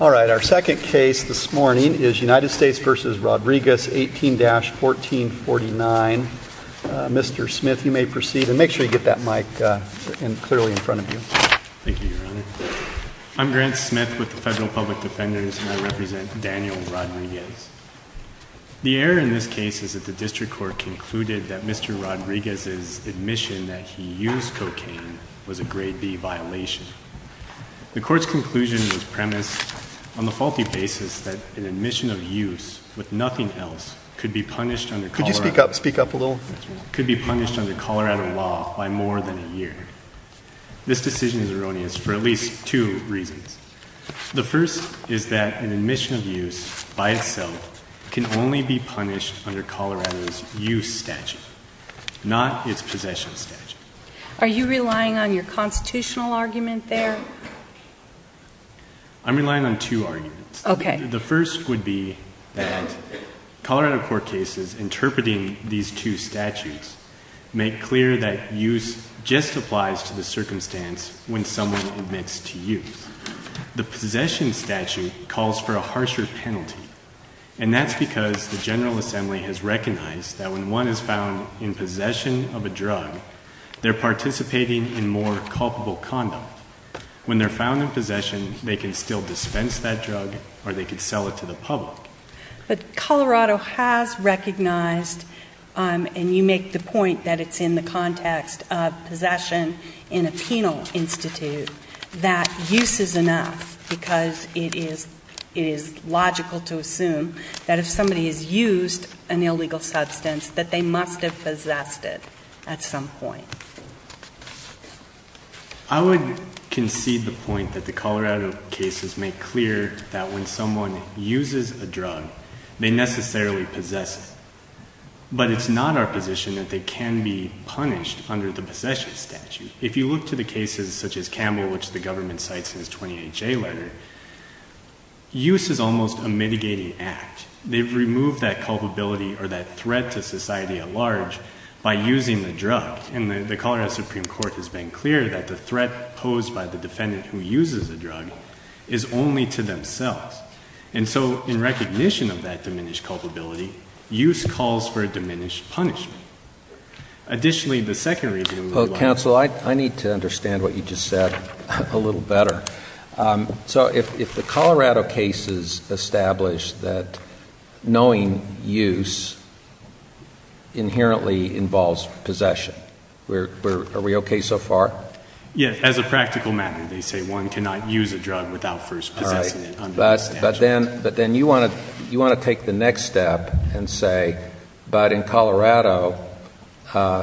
All right our second case this morning is United States v. Rodriguez 18-1449. Mr. Smith you may proceed and make sure you get that mic clearly in front of you. Thank you your honor. I'm Grant Smith with the Federal Public Defenders and I represent Daniel Rodriguez. The error in this case is that the district court concluded that Mr. Rodriguez's admission that he used cocaine was a grade b violation. The court's conclusion was premised on the faulty basis that an admission of use with nothing else could be punished under Colorado could be punished under Colorado law by more than a year. This decision is erroneous for at least two reasons. The first is that an admission of use by itself can only be punished under Colorado's statute, not its possession statute. Are you relying on your constitutional argument there? I'm relying on two arguments. Okay. The first would be that Colorado court cases interpreting these two statutes make clear that use just applies to the circumstance when someone admits to use. The possession statute calls for a harsher penalty and that's because the General Assembly has recognized that when one is found in possession of a drug they're participating in more culpable conduct. When they're found in possession they can still dispense that drug or they could sell it to the public. But Colorado has recognized and you make the point that it's in the context of possession in a penal institute that use is enough because it is it is logical to recognize that use is an illegal substance that they must have possessed it at some point. I would concede the point that the Colorado cases make clear that when someone uses a drug they necessarily possess it. But it's not our position that they can be punished under the possession statute. If you look to the cases such as Camel, which the government cites in its 20HA letter, use is almost a mitigating act. They've removed that culpability or that threat to society at large by using the drug. And the Colorado Supreme Court has been clear that the threat posed by the defendant who uses a drug is only to themselves. And so in recognition of that diminished culpability, use calls for a diminished punishment. Additionally, the second reason... Counsel, I need to understand what you just said a little better. So if the Colorado cases establish that knowing use inherently involves possession, are we okay so far? Yes. As a practical matter, they say one cannot use a drug without first possessing it. All right. But then you want to take the next step and say, but in Colorado,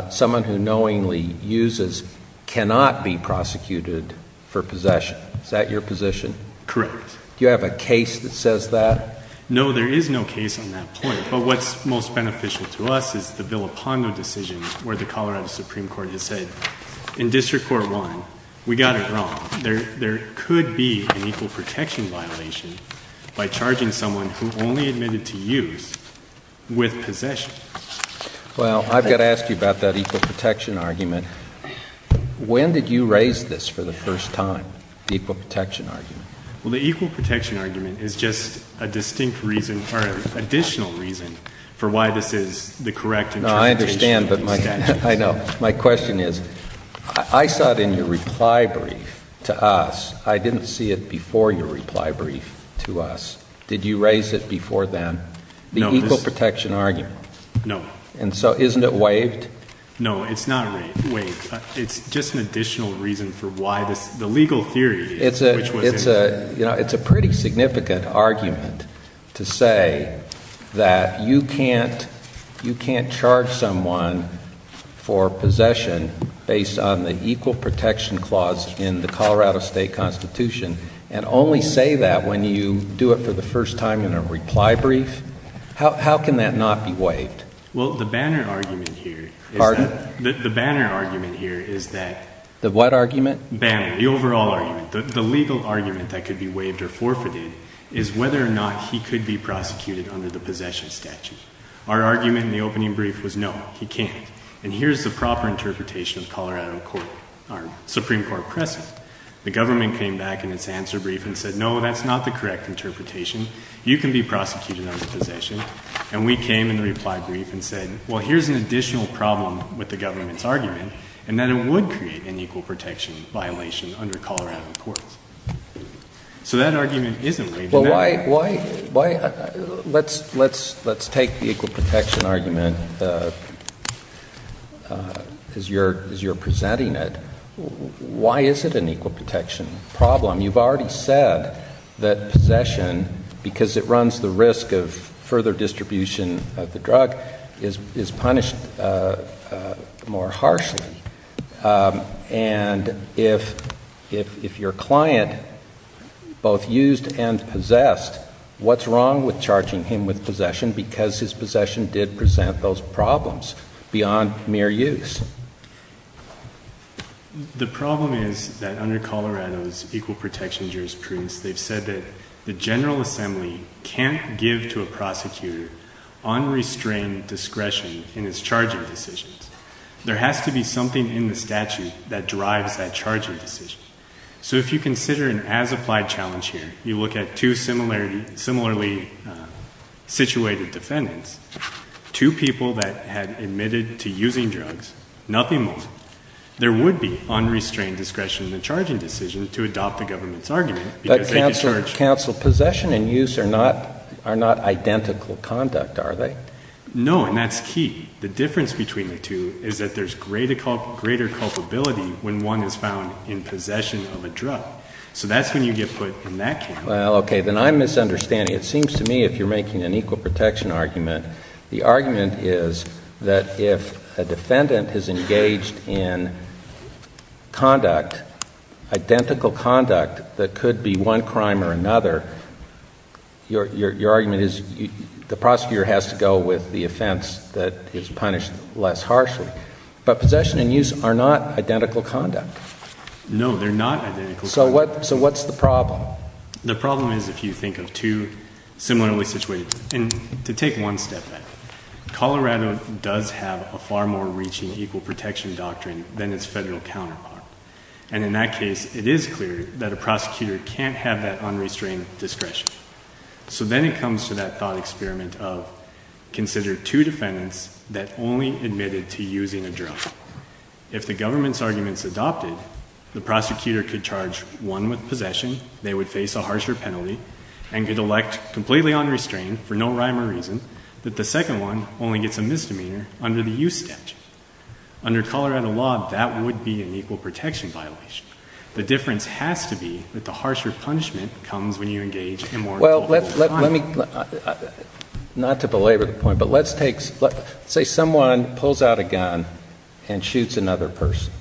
someone who knowingly uses cannot be prosecuted for possession. Is that your position? Correct. Do you have a case that says that? No, there is no case on that point. But what's most beneficial to us is the Villapando decision where the Colorado Supreme Court has said, in District Court 1, we got it wrong. There could be an equal protection violation by charging someone who only admitted to use with possession. Well, I've got to ask you about that equal protection argument. When did you raise this for the first time, the equal protection argument? Well, the equal protection argument is just a distinct reason or an additional reason for why this is the correct interpretation. No, I understand. But I know. My question is, I saw it in your reply brief to us. I didn't see it before your reply brief to us. Did you raise it before then, the equal protection argument? No. And so isn't it waived? No, it's not waived. It's just an additional reason for why this, the legal theory. It's a pretty significant argument to say that you can't charge someone for possession based on the equal protection clause in the Colorado State Constitution and only say that when you do it for the first time in a reply brief. How can that not be waived? Well, the banner argument here is that... Pardon? The banner argument here is that... The what argument? Banner. The overall argument. The legal argument that could be waived or forfeited is whether or not he could be prosecuted under the possession statute. Our argument in the opening brief was, no, he can't. And here's the proper interpretation of Colorado Supreme Court precedent. The government came back in its answer brief and said, no, that's not the correct interpretation. You can be prosecuted under possession. And we came in the reply brief and said, well, here's an additional problem with the government's argument, and that it would create an equal protection violation under Colorado courts. So that argument isn't waived. Well, let's take the equal protection argument as you're presenting it. Why is it an equal protection problem? You've already said that possession, because it runs the risk of further What's wrong with charging him with possession because his possession did present those problems beyond mere use? The problem is that under Colorado's equal protection jurisprudence, they've said that the General Assembly can't give to a prosecutor unrestrained discretion in his charging decisions. There has to be something in the statute that drives that charging decision. So if you consider an as-applied challenge here, you look at two similarly situated defendants, two people that had admitted to using drugs, nothing more, there would be unrestrained discretion in the charging decision to adopt the government's argument. But counsel, possession and use are not identical conduct, are they? No, and that's key. The difference between the two is that there's greater culpability when one is found in possession of a drug. So that's when you get put in that category. Well, okay, then I'm misunderstanding. It seems to me if you're making an equal protection argument, the argument is that if a defendant is engaged in conduct, identical conduct that could be one crime or another, your argument is the prosecutor has to go with the offense that is punished less harshly. But possession and use are not identical conduct. No, they're not identical. So what's the problem? The problem is if you think of two similarly situated, and to take one step back, Colorado does have a far more reaching equal protection doctrine than its federal counterpart. And in that case, it is clear that a prosecutor can't have that unrestrained discretion. So then it that only admitted to using a drug. If the government's arguments adopted, the prosecutor could charge one with possession, they would face a harsher penalty, and could elect completely unrestrained for no rhyme or reason that the second one only gets a misdemeanor under the use statute. Under Colorado law, that would be an equal protection violation. The difference has to be that the harsher punishment comes when you engage in more Let's say someone pulls out a gun and shoots another person.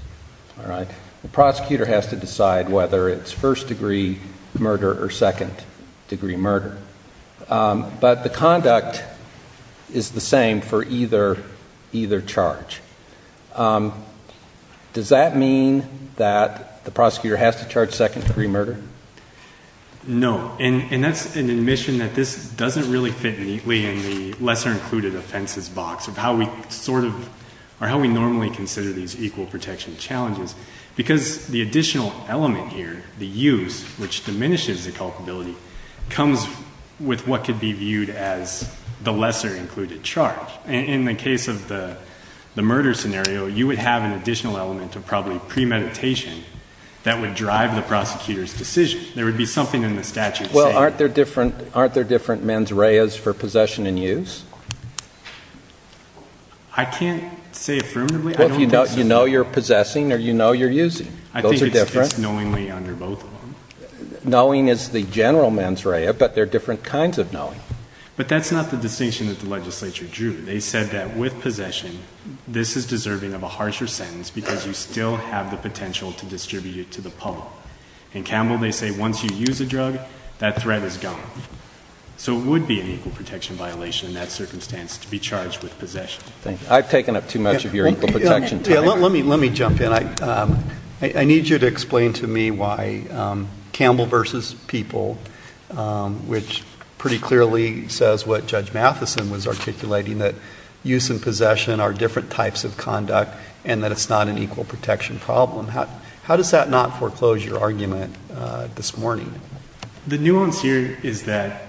The prosecutor has to decide whether it's first-degree murder or second-degree murder. But the conduct is the same for either charge. Does that mean that the prosecutor has to charge second-degree murder? No. And that's an admission that this doesn't really fit neatly in the lesser included offenses box of how we sort of, or how we normally consider these equal protection challenges. Because the additional element here, the use, which diminishes the culpability, comes with what could be viewed as the lesser included charge. And in the case of the murder scenario, you would have an additional element of probably premeditation that would drive the prosecutors decision. There would be something in the statute saying... Well, aren't there different mens reas for possession and use? I can't say affirmatively. Well, if you know you're possessing or you know you're using. Those are different. I think it's knowingly under both of them. Knowing is the general mens rea, but there are different kinds of knowing. But that's not the distinction that the legislature drew. They said that with possession, this is deserving of a harsher sentence because you still have the potential to distribute to the pub. In Campbell, they say once you use a drug, that threat is gone. So it would be an equal protection violation in that circumstance to be charged with possession. Thank you. I've taken up too much of your equal protection time. Let me jump in. I need you to explain to me why Campbell v. People, which pretty clearly says what Judge Matheson was articulating, that use and possession are different types of conduct and that it's not an equal protection problem. How does that not foreclose your argument this morning? The nuance here is that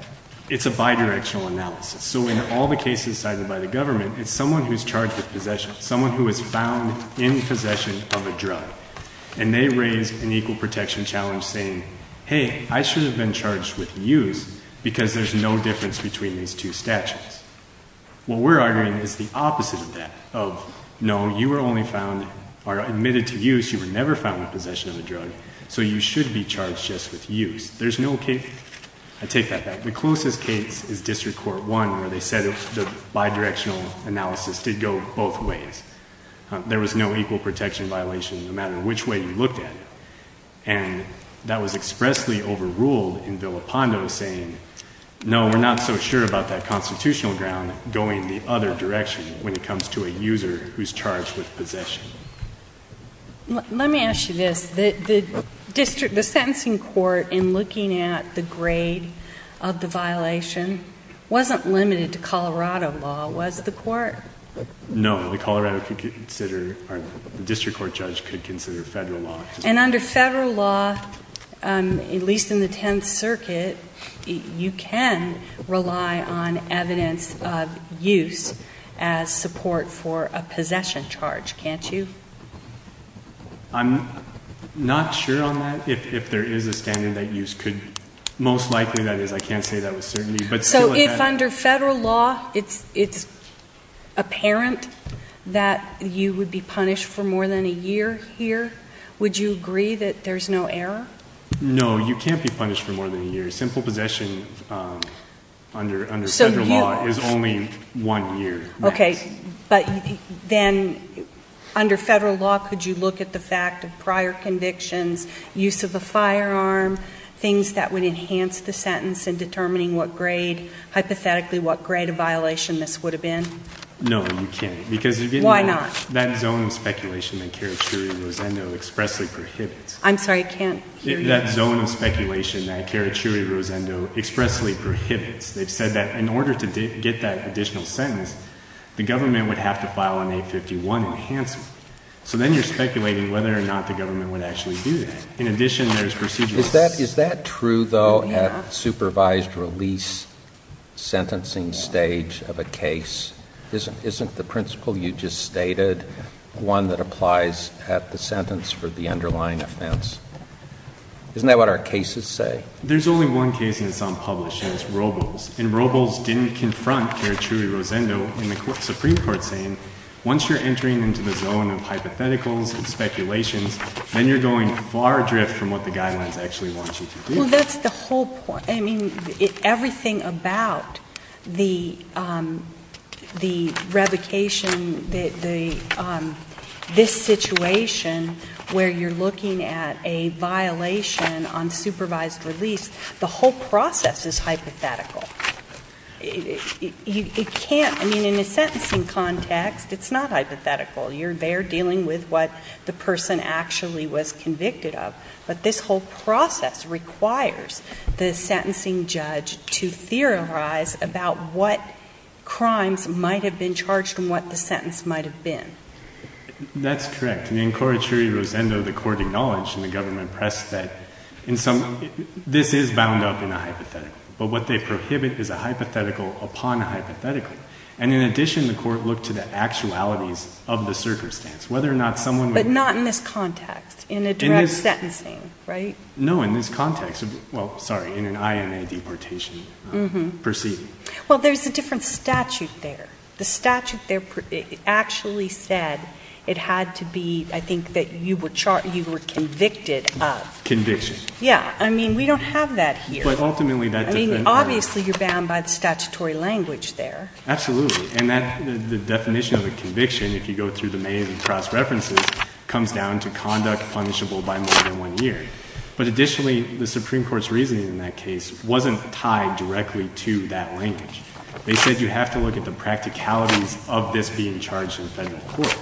it's a bidirectional analysis. So in all the cases cited by the government, it's someone who's charged with possession, someone who is found in possession of a drug. And they raise an equal protection challenge saying, hey, I should have been charged with use because there's no difference between these two statutes. What we're arguing is the opposite of that, of, no, you were only found or admitted to use, you were never found in possession of a drug, so you should be charged just with use. There's no case, I take that back, the closest case is District Court 1 where they said the bidirectional analysis did go both ways. There was no equal protection violation, no matter which way you looked at it. And that was expressly overruled in Villa Pondo saying, no, we're not so sure about that constitutional ground going the other direction when it comes to a user who's charged with possession. Let me ask you this, the district, the sentencing court in looking at the grade of the violation wasn't limited to Colorado law, was the court? No, the Colorado could consider, the District Court judge could consider federal law. And under federal law, at least in the Tenth Circuit, you can rely on evidence of use as support for a possession charge, can't you? I'm not sure on that, if there is a standard that use could, most likely that is. I can't say that with certainty. So if under federal law, it's apparent that you would be punished for more than a year here, would you agree that there's no error? No, you can't be punished for more than a year. Simple possession under federal law is only one year. Okay, but then under federal law, could you look at the fact of prior convictions, use of a firearm, things that would enhance the sentence in determining what grade, hypothetically what grade of violation this would have been? No, you can't. Why not? Because that zone of speculation that Carachuri-Rosendo expressly prohibits. I'm sorry, I can't hear you. That zone of speculation that Carachuri-Rosendo expressly prohibits. They've said that in order to get that additional sentence, the government would have to file an 851 enhancement. So then you're speculating whether or not the government would actually do that. In addition, there's procedural... Is that true though at supervised release sentencing stage of a case? Isn't the principle you just stated one that applies at the sentence for the underlying offense? Isn't that what our cases say? There's only one case and it's unpublished, and it's Robles. And Robles didn't confront Carachuri-Rosendo in the Supreme Court saying, once you're entering into the zone of hypotheticals and speculations, then you're going far adrift from what the guidelines actually want you to do. Well, that's the whole point. I mean, everything about the revocation, this situation where you're looking at a violation on supervised release, the whole process is hypothetical. It can't, I mean, in a sentencing context, it's not hypothetical. You're there with what the person actually was convicted of, but this whole process requires the sentencing judge to theorize about what crimes might have been charged and what the sentence might have been. That's correct. In Carachuri-Rosendo, the court acknowledged in the government press that this is bound up in a hypothetical, but what they prohibit is a hypothetical upon a hypothetical. And in addition, the court looked to the actualities of the circumstance. But not in this context, in a direct sentencing, right? No, in this context. Well, sorry, in an INA deportation proceeding. Well, there's a different statute there. The statute there actually said it had to be, I think, that you were convicted of. Conviction. Yeah. I mean, we don't have that here. But ultimately, that depends. Obviously, you're bound by the statutory language there. Absolutely. And the definition of a conviction, if you go through the main cross-references, comes down to conduct punishable by more than one year. But additionally, the Supreme Court's reasoning in that case wasn't tied directly to that language. They said you have to look at the practicalities of this being charged in federal court.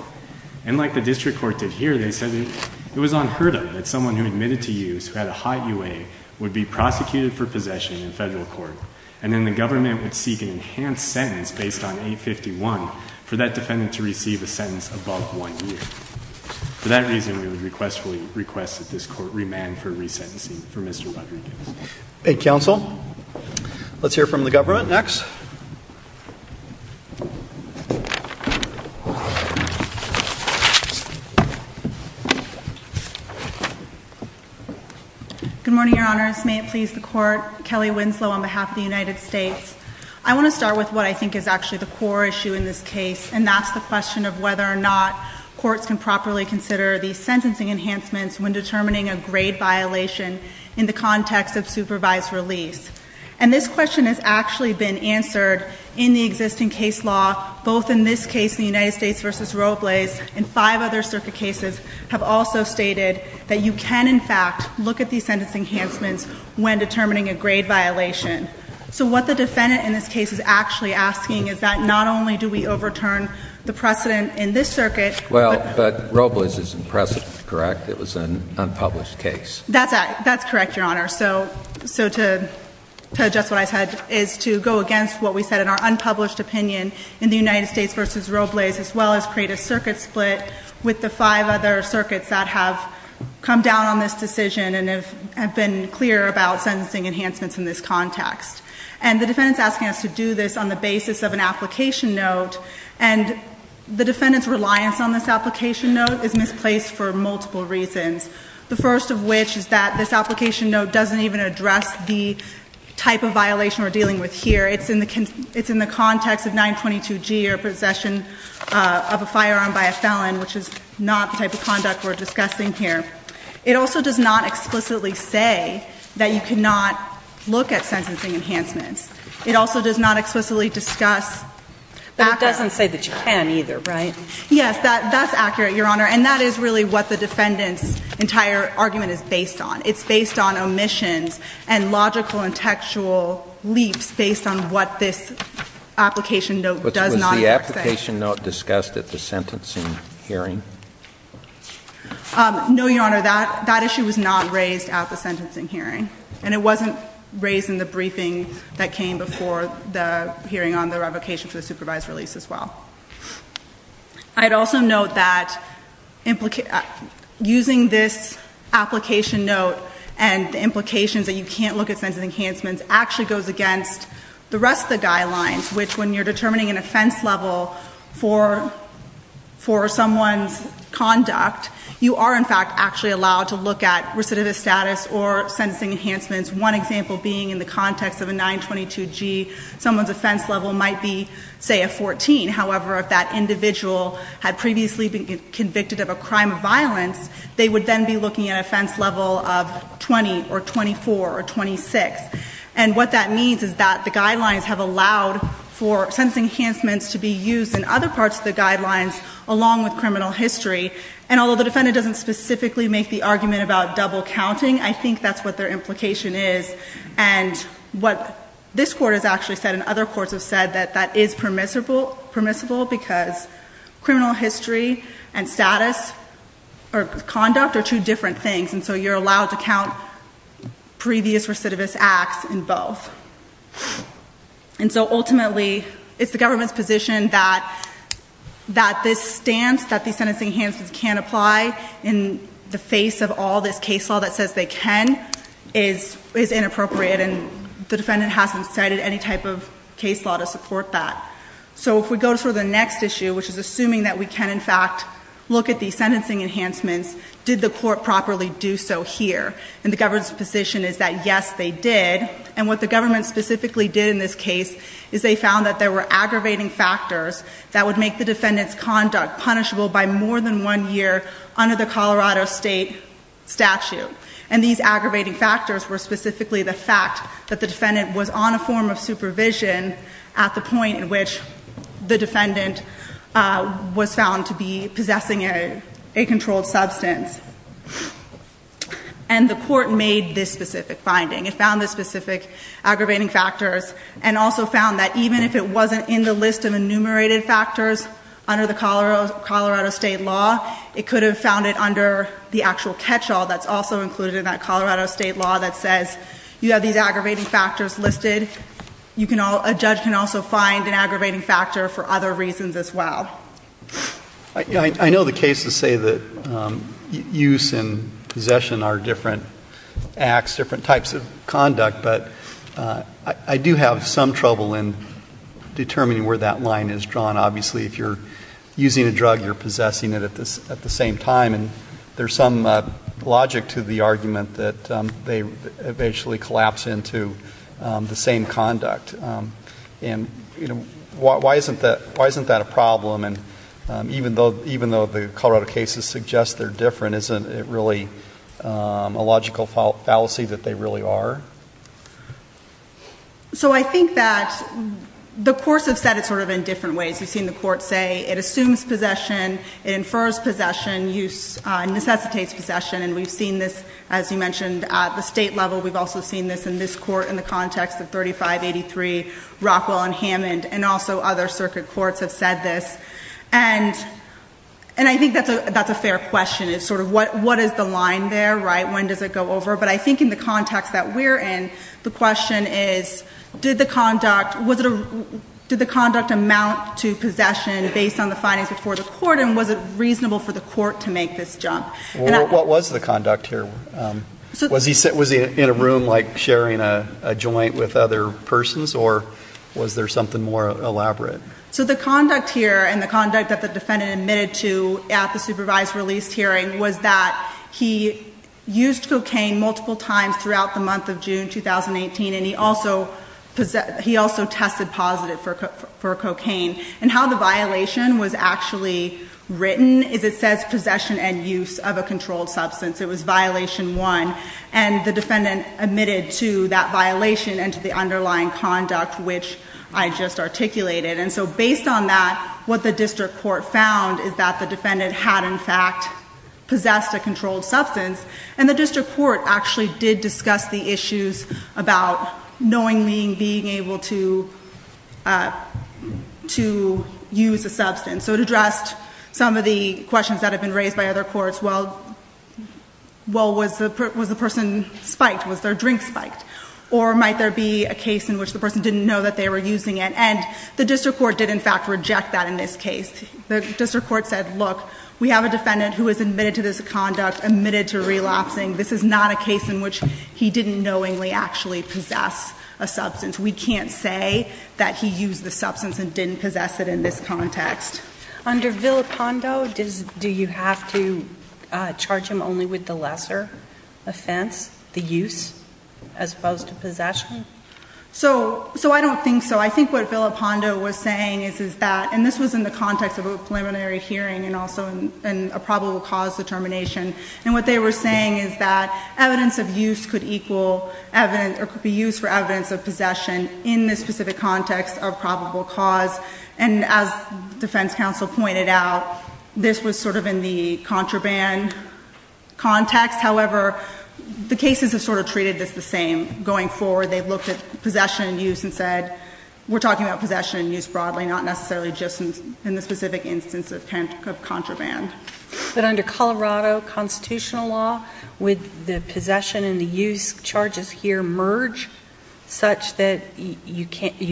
And like the district court did here, they said it was unheard of that someone who admitted to who had a high UA would be prosecuted for possession in federal court. And then the government would seek an enhanced sentence based on 851 for that defendant to receive a sentence above one year. For that reason, we would request that this court remand for resentencing for Mr. Rodriguez. Counsel, let's hear from the government next. Good morning, Your Honors. May it please the Court. Kelly Winslow on behalf of the United States. I want to start with what I think is actually the core issue in this case. And that's the question of whether or not courts can properly consider these sentencing enhancements when determining a grade violation in the context of supervised release. And this question has actually been answered in the existing case law, both in this case, the United States versus Robles, and five other circuit cases have also stated that you can, in fact, look at these sentence enhancements when determining a grade violation. So what the defendant in this case is actually asking is that not only do we overturn the precedent in this circuit. Well, but Robles is impressive, correct? It was an unpublished case. That's correct, Your Honor. So to address what I said is to go against what we said in our unpublished opinion in the United States versus Robles, as well as create a circuit split with the five other circuits that have come down on this decision and have been clear about sentencing enhancements in this context. And the defendant's asking us to do this on the basis of an application note. And the defendant's reliance on this application note is misplaced for multiple reasons. The first of which is that this application note doesn't even address the type of violation we're dealing with here. It's in the context of 922G or possession of a firearm by a felon, which is not the type of conduct we're discussing here. It also does not explicitly say that you cannot look at sentencing enhancements. It also does not explicitly discuss accuracy. But it doesn't say that you can either, right? Yes. That's accurate, Your Honor. And that is really what the defendant's entire argument is based on. It's based on omissions and logical and textual leaps based on what this application note does not say. Was the application note discussed at the sentencing hearing? No, Your Honor. That issue was not raised at the sentencing hearing. And it wasn't raised in the briefing that came before the hearing on the revocation for the supervised release as well. I'd also note that using this application note and the implications that you can't look at sentencing enhancements actually goes against the rest of the guidelines, which when you're determining an offense level for someone's conduct, you are in sentencing enhancements. One example being in the context of a 922 G, someone's offense level might be, say, a 14. However, if that individual had previously been convicted of a crime of violence, they would then be looking at an offense level of 20 or 24 or 26. And what that means is that the guidelines have allowed for sentencing enhancements to be used in other parts of the guidelines along with criminal history. And although the defendant doesn't specifically make the argument about double counting, I think that's what their implication is. And what this court has actually said and other courts have said that that is permissible because criminal history and status or conduct are two different things. And so you're allowed to count previous recidivist acts in both. And so ultimately, it's the government's position that this stance that the sentencing enhancements can't apply in the face of all this case law that says they can is inappropriate. And the defendant hasn't cited any type of case law to support that. So if we go to the next issue, which is assuming that we can, in fact, look at the sentencing enhancements, did the court properly do so here? And the government's position is that, yes, they did. And what the government specifically did in this case is they found that there were under the Colorado state statute. And these aggravating factors were specifically the fact that the defendant was on a form of supervision at the point in which the defendant was found to be possessing a controlled substance. And the court made this specific finding. It found the specific aggravating factors and also found that even if it wasn't in the enumerated factors under the Colorado state law, it could have found it under the actual catch-all that's also included in that Colorado state law that says you have these aggravating factors listed. A judge can also find an aggravating factor for other reasons as well. MR. GOLDSTEIN I know the cases say that use and possession are different acts, different types of conduct. But I do have some trouble in determining where that line is drawn. Obviously, if you're using a drug, you're possessing it at the same time. And there's some logic to the argument that they eventually collapse into the same conduct. And why isn't that a problem? And even though the Colorado cases suggest they're different, isn't it really a logical fallacy that they really are? MS. GOLDSTEIN So I think that the courts have said it sort of in different ways. You've seen the courts say it assumes possession, it infers possession, necessitates possession. And we've seen this, as you mentioned, at the state level. We've also seen this in this court in the context of 3583, Rockwell and Hammond, and also other circuit courts have said this. And I think that's a fair question. It's sort of what is the line there, right? When does it go over? But I think in the context that we're in, the question is, did the conduct amount to possession based on the findings before the court? And was it reasonable for the court to make this jump? MR. GOLDSTEIN What was the conduct here? Was he in a room, like, sharing a joint with other persons? Or was there something more elaborate? MS. GOLDSTEIN So the conduct here, and the conduct that the defendant admitted to at the supervised release hearing, was that he used cocaine multiple times throughout the month of June 2018, and he also tested positive for cocaine. And how the violation was actually written is it says possession and use of a controlled substance. It was violation one. And the defendant admitted to that violation and to the underlying conduct, which I just articulated. And so based on that, what the district court found is that the defendant had, in fact, possessed a controlled substance. And the district court actually did discuss the issues about knowingly being able to use a substance. So it addressed some of the questions that have been raised by other courts. Well, was the person spiked? Was their drink spiked? Or might there be a case in which the person didn't know that they were using it? And the district court did, in fact, reject that in this case. The district court said, look, we have a defendant who has admitted to this conduct, admitted to relapsing. This is not a case in which he didn't knowingly actually possess a substance. We can't say that he used the substance and didn't possess it in this context. MS. GOLDSTEIN Under Villopando, do you have to charge him only with the lesser offense, the use, as opposed to possession? MS. GOLDSTEIN So I don't think so. I think what Villopando was saying is that, and this was in the context of a preliminary hearing and also in a probable cause determination, and what they were saying is that evidence of use could equal evidence or could be used for evidence of possession in this specific context of probable cause. And as defense counsel pointed out, this was sort of in the contraband context. However, the cases have sort of treated this the same going forward. They've looked at possession and use and said, we're talking about possession and use broadly, not necessarily just in the specific instance of contraband. MS. GOLDSTEIN But under Colorado constitutional law, would the possession and the use charges here merge such that you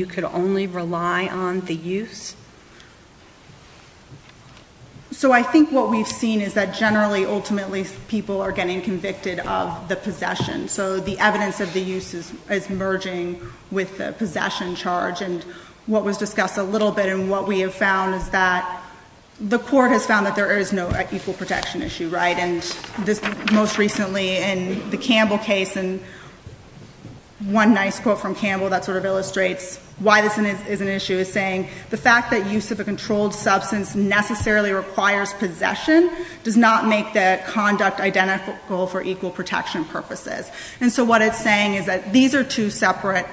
could only rely on the use? MS. GOLDSTEIN So I think what we've seen is that generally, ultimately, people are getting convicted of the possession. So the evidence of the use is merging with the possession charge. And what was discussed a little bit and what we have found is that the Court has found that there is no equal protection issue, right? And this most recently in the Campbell case, and one nice quote from Campbell that sort of illustrates why this is an issue is saying, the fact that use of a controlled substance necessarily requires possession does not make the conduct identical for equal protection purposes. And so what it's saying is that these are two separate,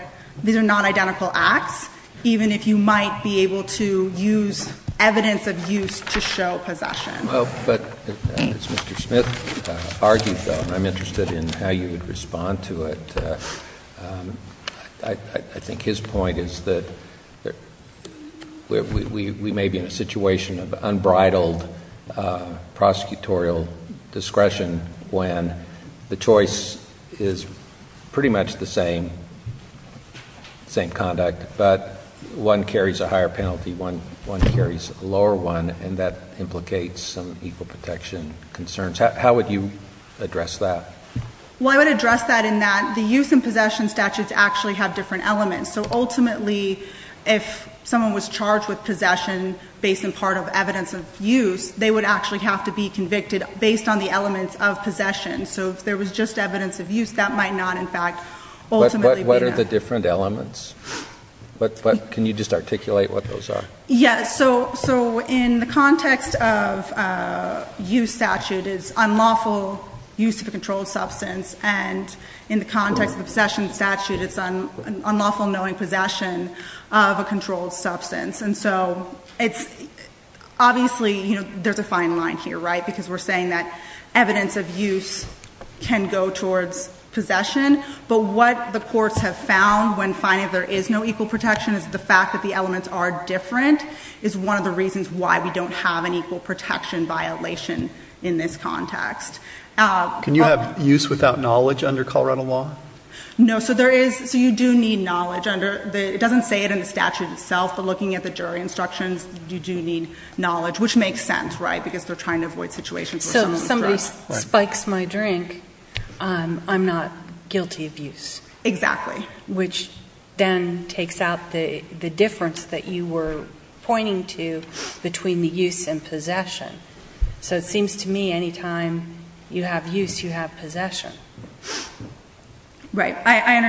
these are non-identical acts, even if you might be able to use evidence of use to show possession. JUSTICE ALITO Well, but as Mr. Smith argued, though, and I'm interested in how you would respond to it, I think his point is that we may be in a situation of unbridled prosecutorial discretion when the choice is pretty much the same, same conduct, but one carries a higher penalty, one carries a lower one, and that implicates some equal protection concerns. How would you address that? MS. SMITH Well, I would address that in that the use and possession statutes actually have different elements. So ultimately, if someone was charged with possession based on part of evidence of use, they would actually have to be convicted based on the elements of possession. So if there was just evidence of use, that might not, in fact, ultimately be enough. JUSTICE ALITO But what are the different elements? Can you just articulate what those are? MS. SMITH Yes. So in the context of a use statute, it's unlawful use of a controlled substance, and in the context of a possession statute, it's an unlawful knowing possession of a controlled substance. So obviously, there's a fine line here, right? Because we're saying that evidence of use can go towards possession, but what the courts have found when finding there is no equal protection is the fact that the elements are different is one of the reasons why we don't have an equal protection violation in this context. JUSTICE ALITO Can you have use without knowledge under Colorado law? MS. SMITH No. So you do need knowledge. It doesn't say it in the statute itself, but looking at the jury instructions, you do need knowledge, which makes sense, right, because they're trying to avoid situations where someone's drunk. JUSTICE GINSBURG So if somebody spikes my drink, I'm not guilty of use. MS. SMITH Exactly. JUSTICE GINSBURG Which then takes out the difference that you were pointing to between the use and possession. So it seems to me any time you have use, you have possession. MS.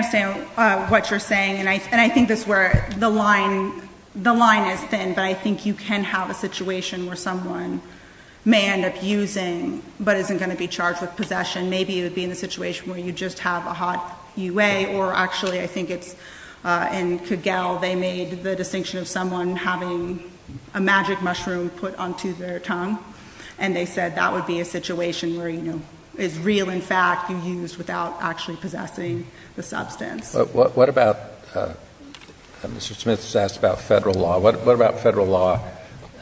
SMITH And I think this is where the line is thin, but I think you can have a situation where someone may end up using, but isn't going to be charged with possession. Maybe it would be in a situation where you just have a hot UA, or actually I think it's in Kegel, they made the distinction of someone having a magic mushroom put onto their tongue, and they said that would be a situation where, you know, it's real, in fact, you use without actually possessing the substance. JUSTICE ALITO What about, Mr. Smith has asked about federal law. What about federal law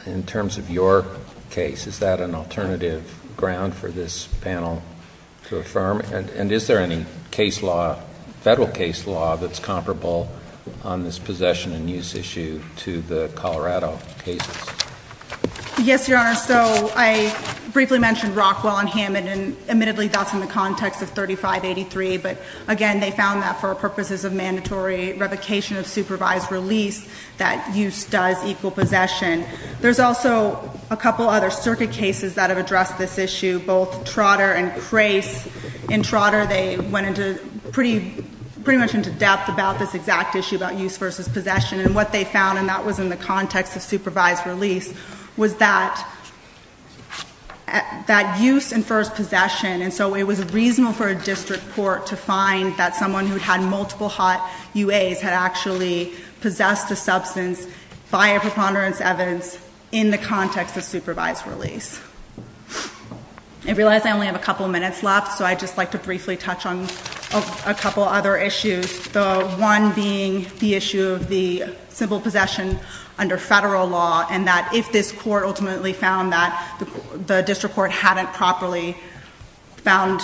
in terms of your case? Is that an alternative ground for this panel to affirm? And is there any case law, federal case law, that's comparable on this possession and use issue to the Colorado cases? MS. SMITH Yes, Your Honor. So I briefly mentioned Rockwell and Hammond, and admittedly that's in the context of 3583, but again, they found that for purposes of mandatory revocation of supervised release, that use does equal possession. There's also a couple other circuit cases that have addressed this issue, both Trotter and Crace. In Trotter, they went pretty much into depth about this exact issue about use versus possession, and what they found, and that was in the context of supervised release, was that that use infers possession. And so it was reasonable for a district court to find that someone who had multiple hot UAs had actually possessed a substance by a preponderance evidence in the context of supervised release. I realize I only have a couple minutes left, so I'd just like to briefly touch on a couple other issues, the one being the issue of the simple possession under federal law, and that this court ultimately found that the district court hadn't properly found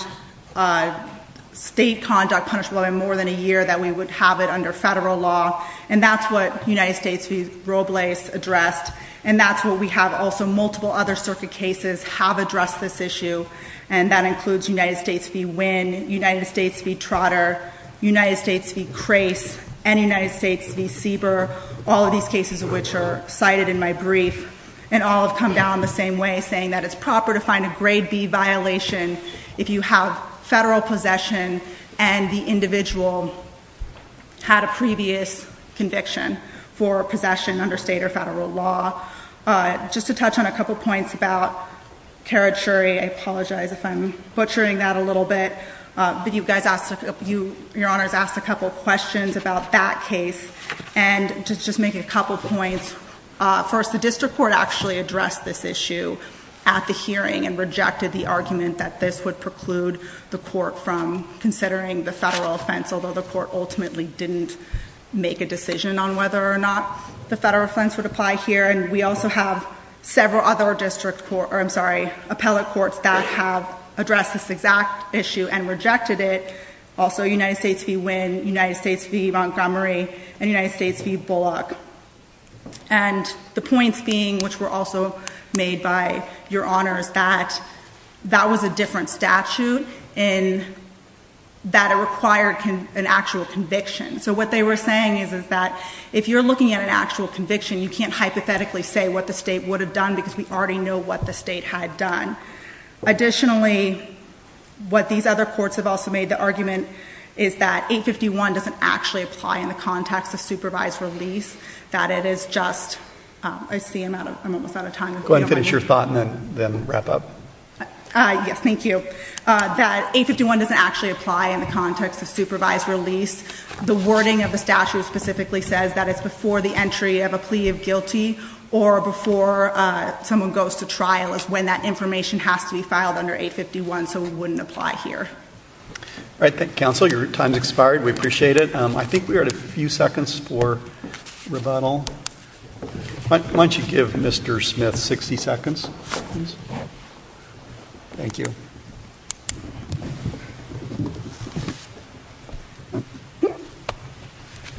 state conduct punishable by more than a year that we would have it under federal law. And that's what United States v. Robles addressed, and that's what we have also multiple other circuit cases have addressed this issue, and that includes United States v. Winn, United States v. Trotter, United States v. Crace, and United States v. Sieber, all of these cases, which are cited in my brief, and all have come down the same way, saying that it's proper to find a grade B violation if you have federal possession and the individual had a previous conviction for possession under state or federal law. Just to touch on a couple points about Karad Shuri, I apologize if I'm butchering that a little bit, but you guys asked, your honors asked a couple questions about that case, and to just make a couple points. First, the district court actually addressed this issue at the hearing and rejected the argument that this would preclude the court from considering the federal offense, although the court ultimately didn't make a decision on whether or not the federal offense would apply here, and we also have several other district court, or I'm sorry, appellate courts that have addressed this exact issue and rejected it. Also, United States v. Wynn, United States v. Montgomery, and United States v. Bullock. And the points being, which were also made by your honors, that that was a different statute in that it required an actual conviction. So what they were saying is that if you're looking at an actual conviction, you can't hypothetically say what the state would have done because we already know what the state had done. Additionally, what these other courts have also made the argument is that 851 doesn't actually apply in the context of supervised release, that it is just, I see I'm almost out of time. Go ahead and finish your thought and then wrap up. Yes, thank you. That 851 doesn't actually apply in the context of supervised release. The wording of the statute specifically says that it's before the entry of a plea of guilty or before someone goes to trial is when that information has to be filed under 851. So it wouldn't apply here. All right. Thank you, counsel. Your time has expired. We appreciate it. I think we are at a few seconds for rebuttal. Why don't you give Mr. Smith 60 seconds? Thank you.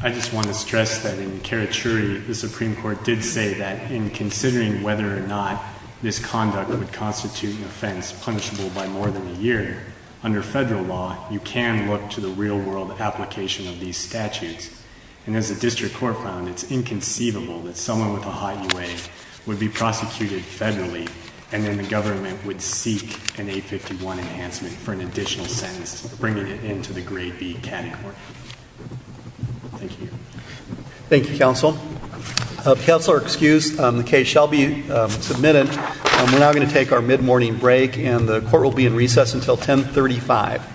I just want to stress that in Karachuri, the Supreme Court did say that in considering whether or not this conduct would constitute an offense punishable by more than a year under federal law, you can look to the real world application of these statutes. And as a district court found, it's inconceivable that someone with a high UA would be prosecuted federally and then the government would seek an 851 enhancement for an additional sentence, bringing it into the grade B category. Thank you. Thank you, counsel. Counselor excused. The case shall be submitted. We're now going to take our mid-morning break and the court will be in recess until 1035.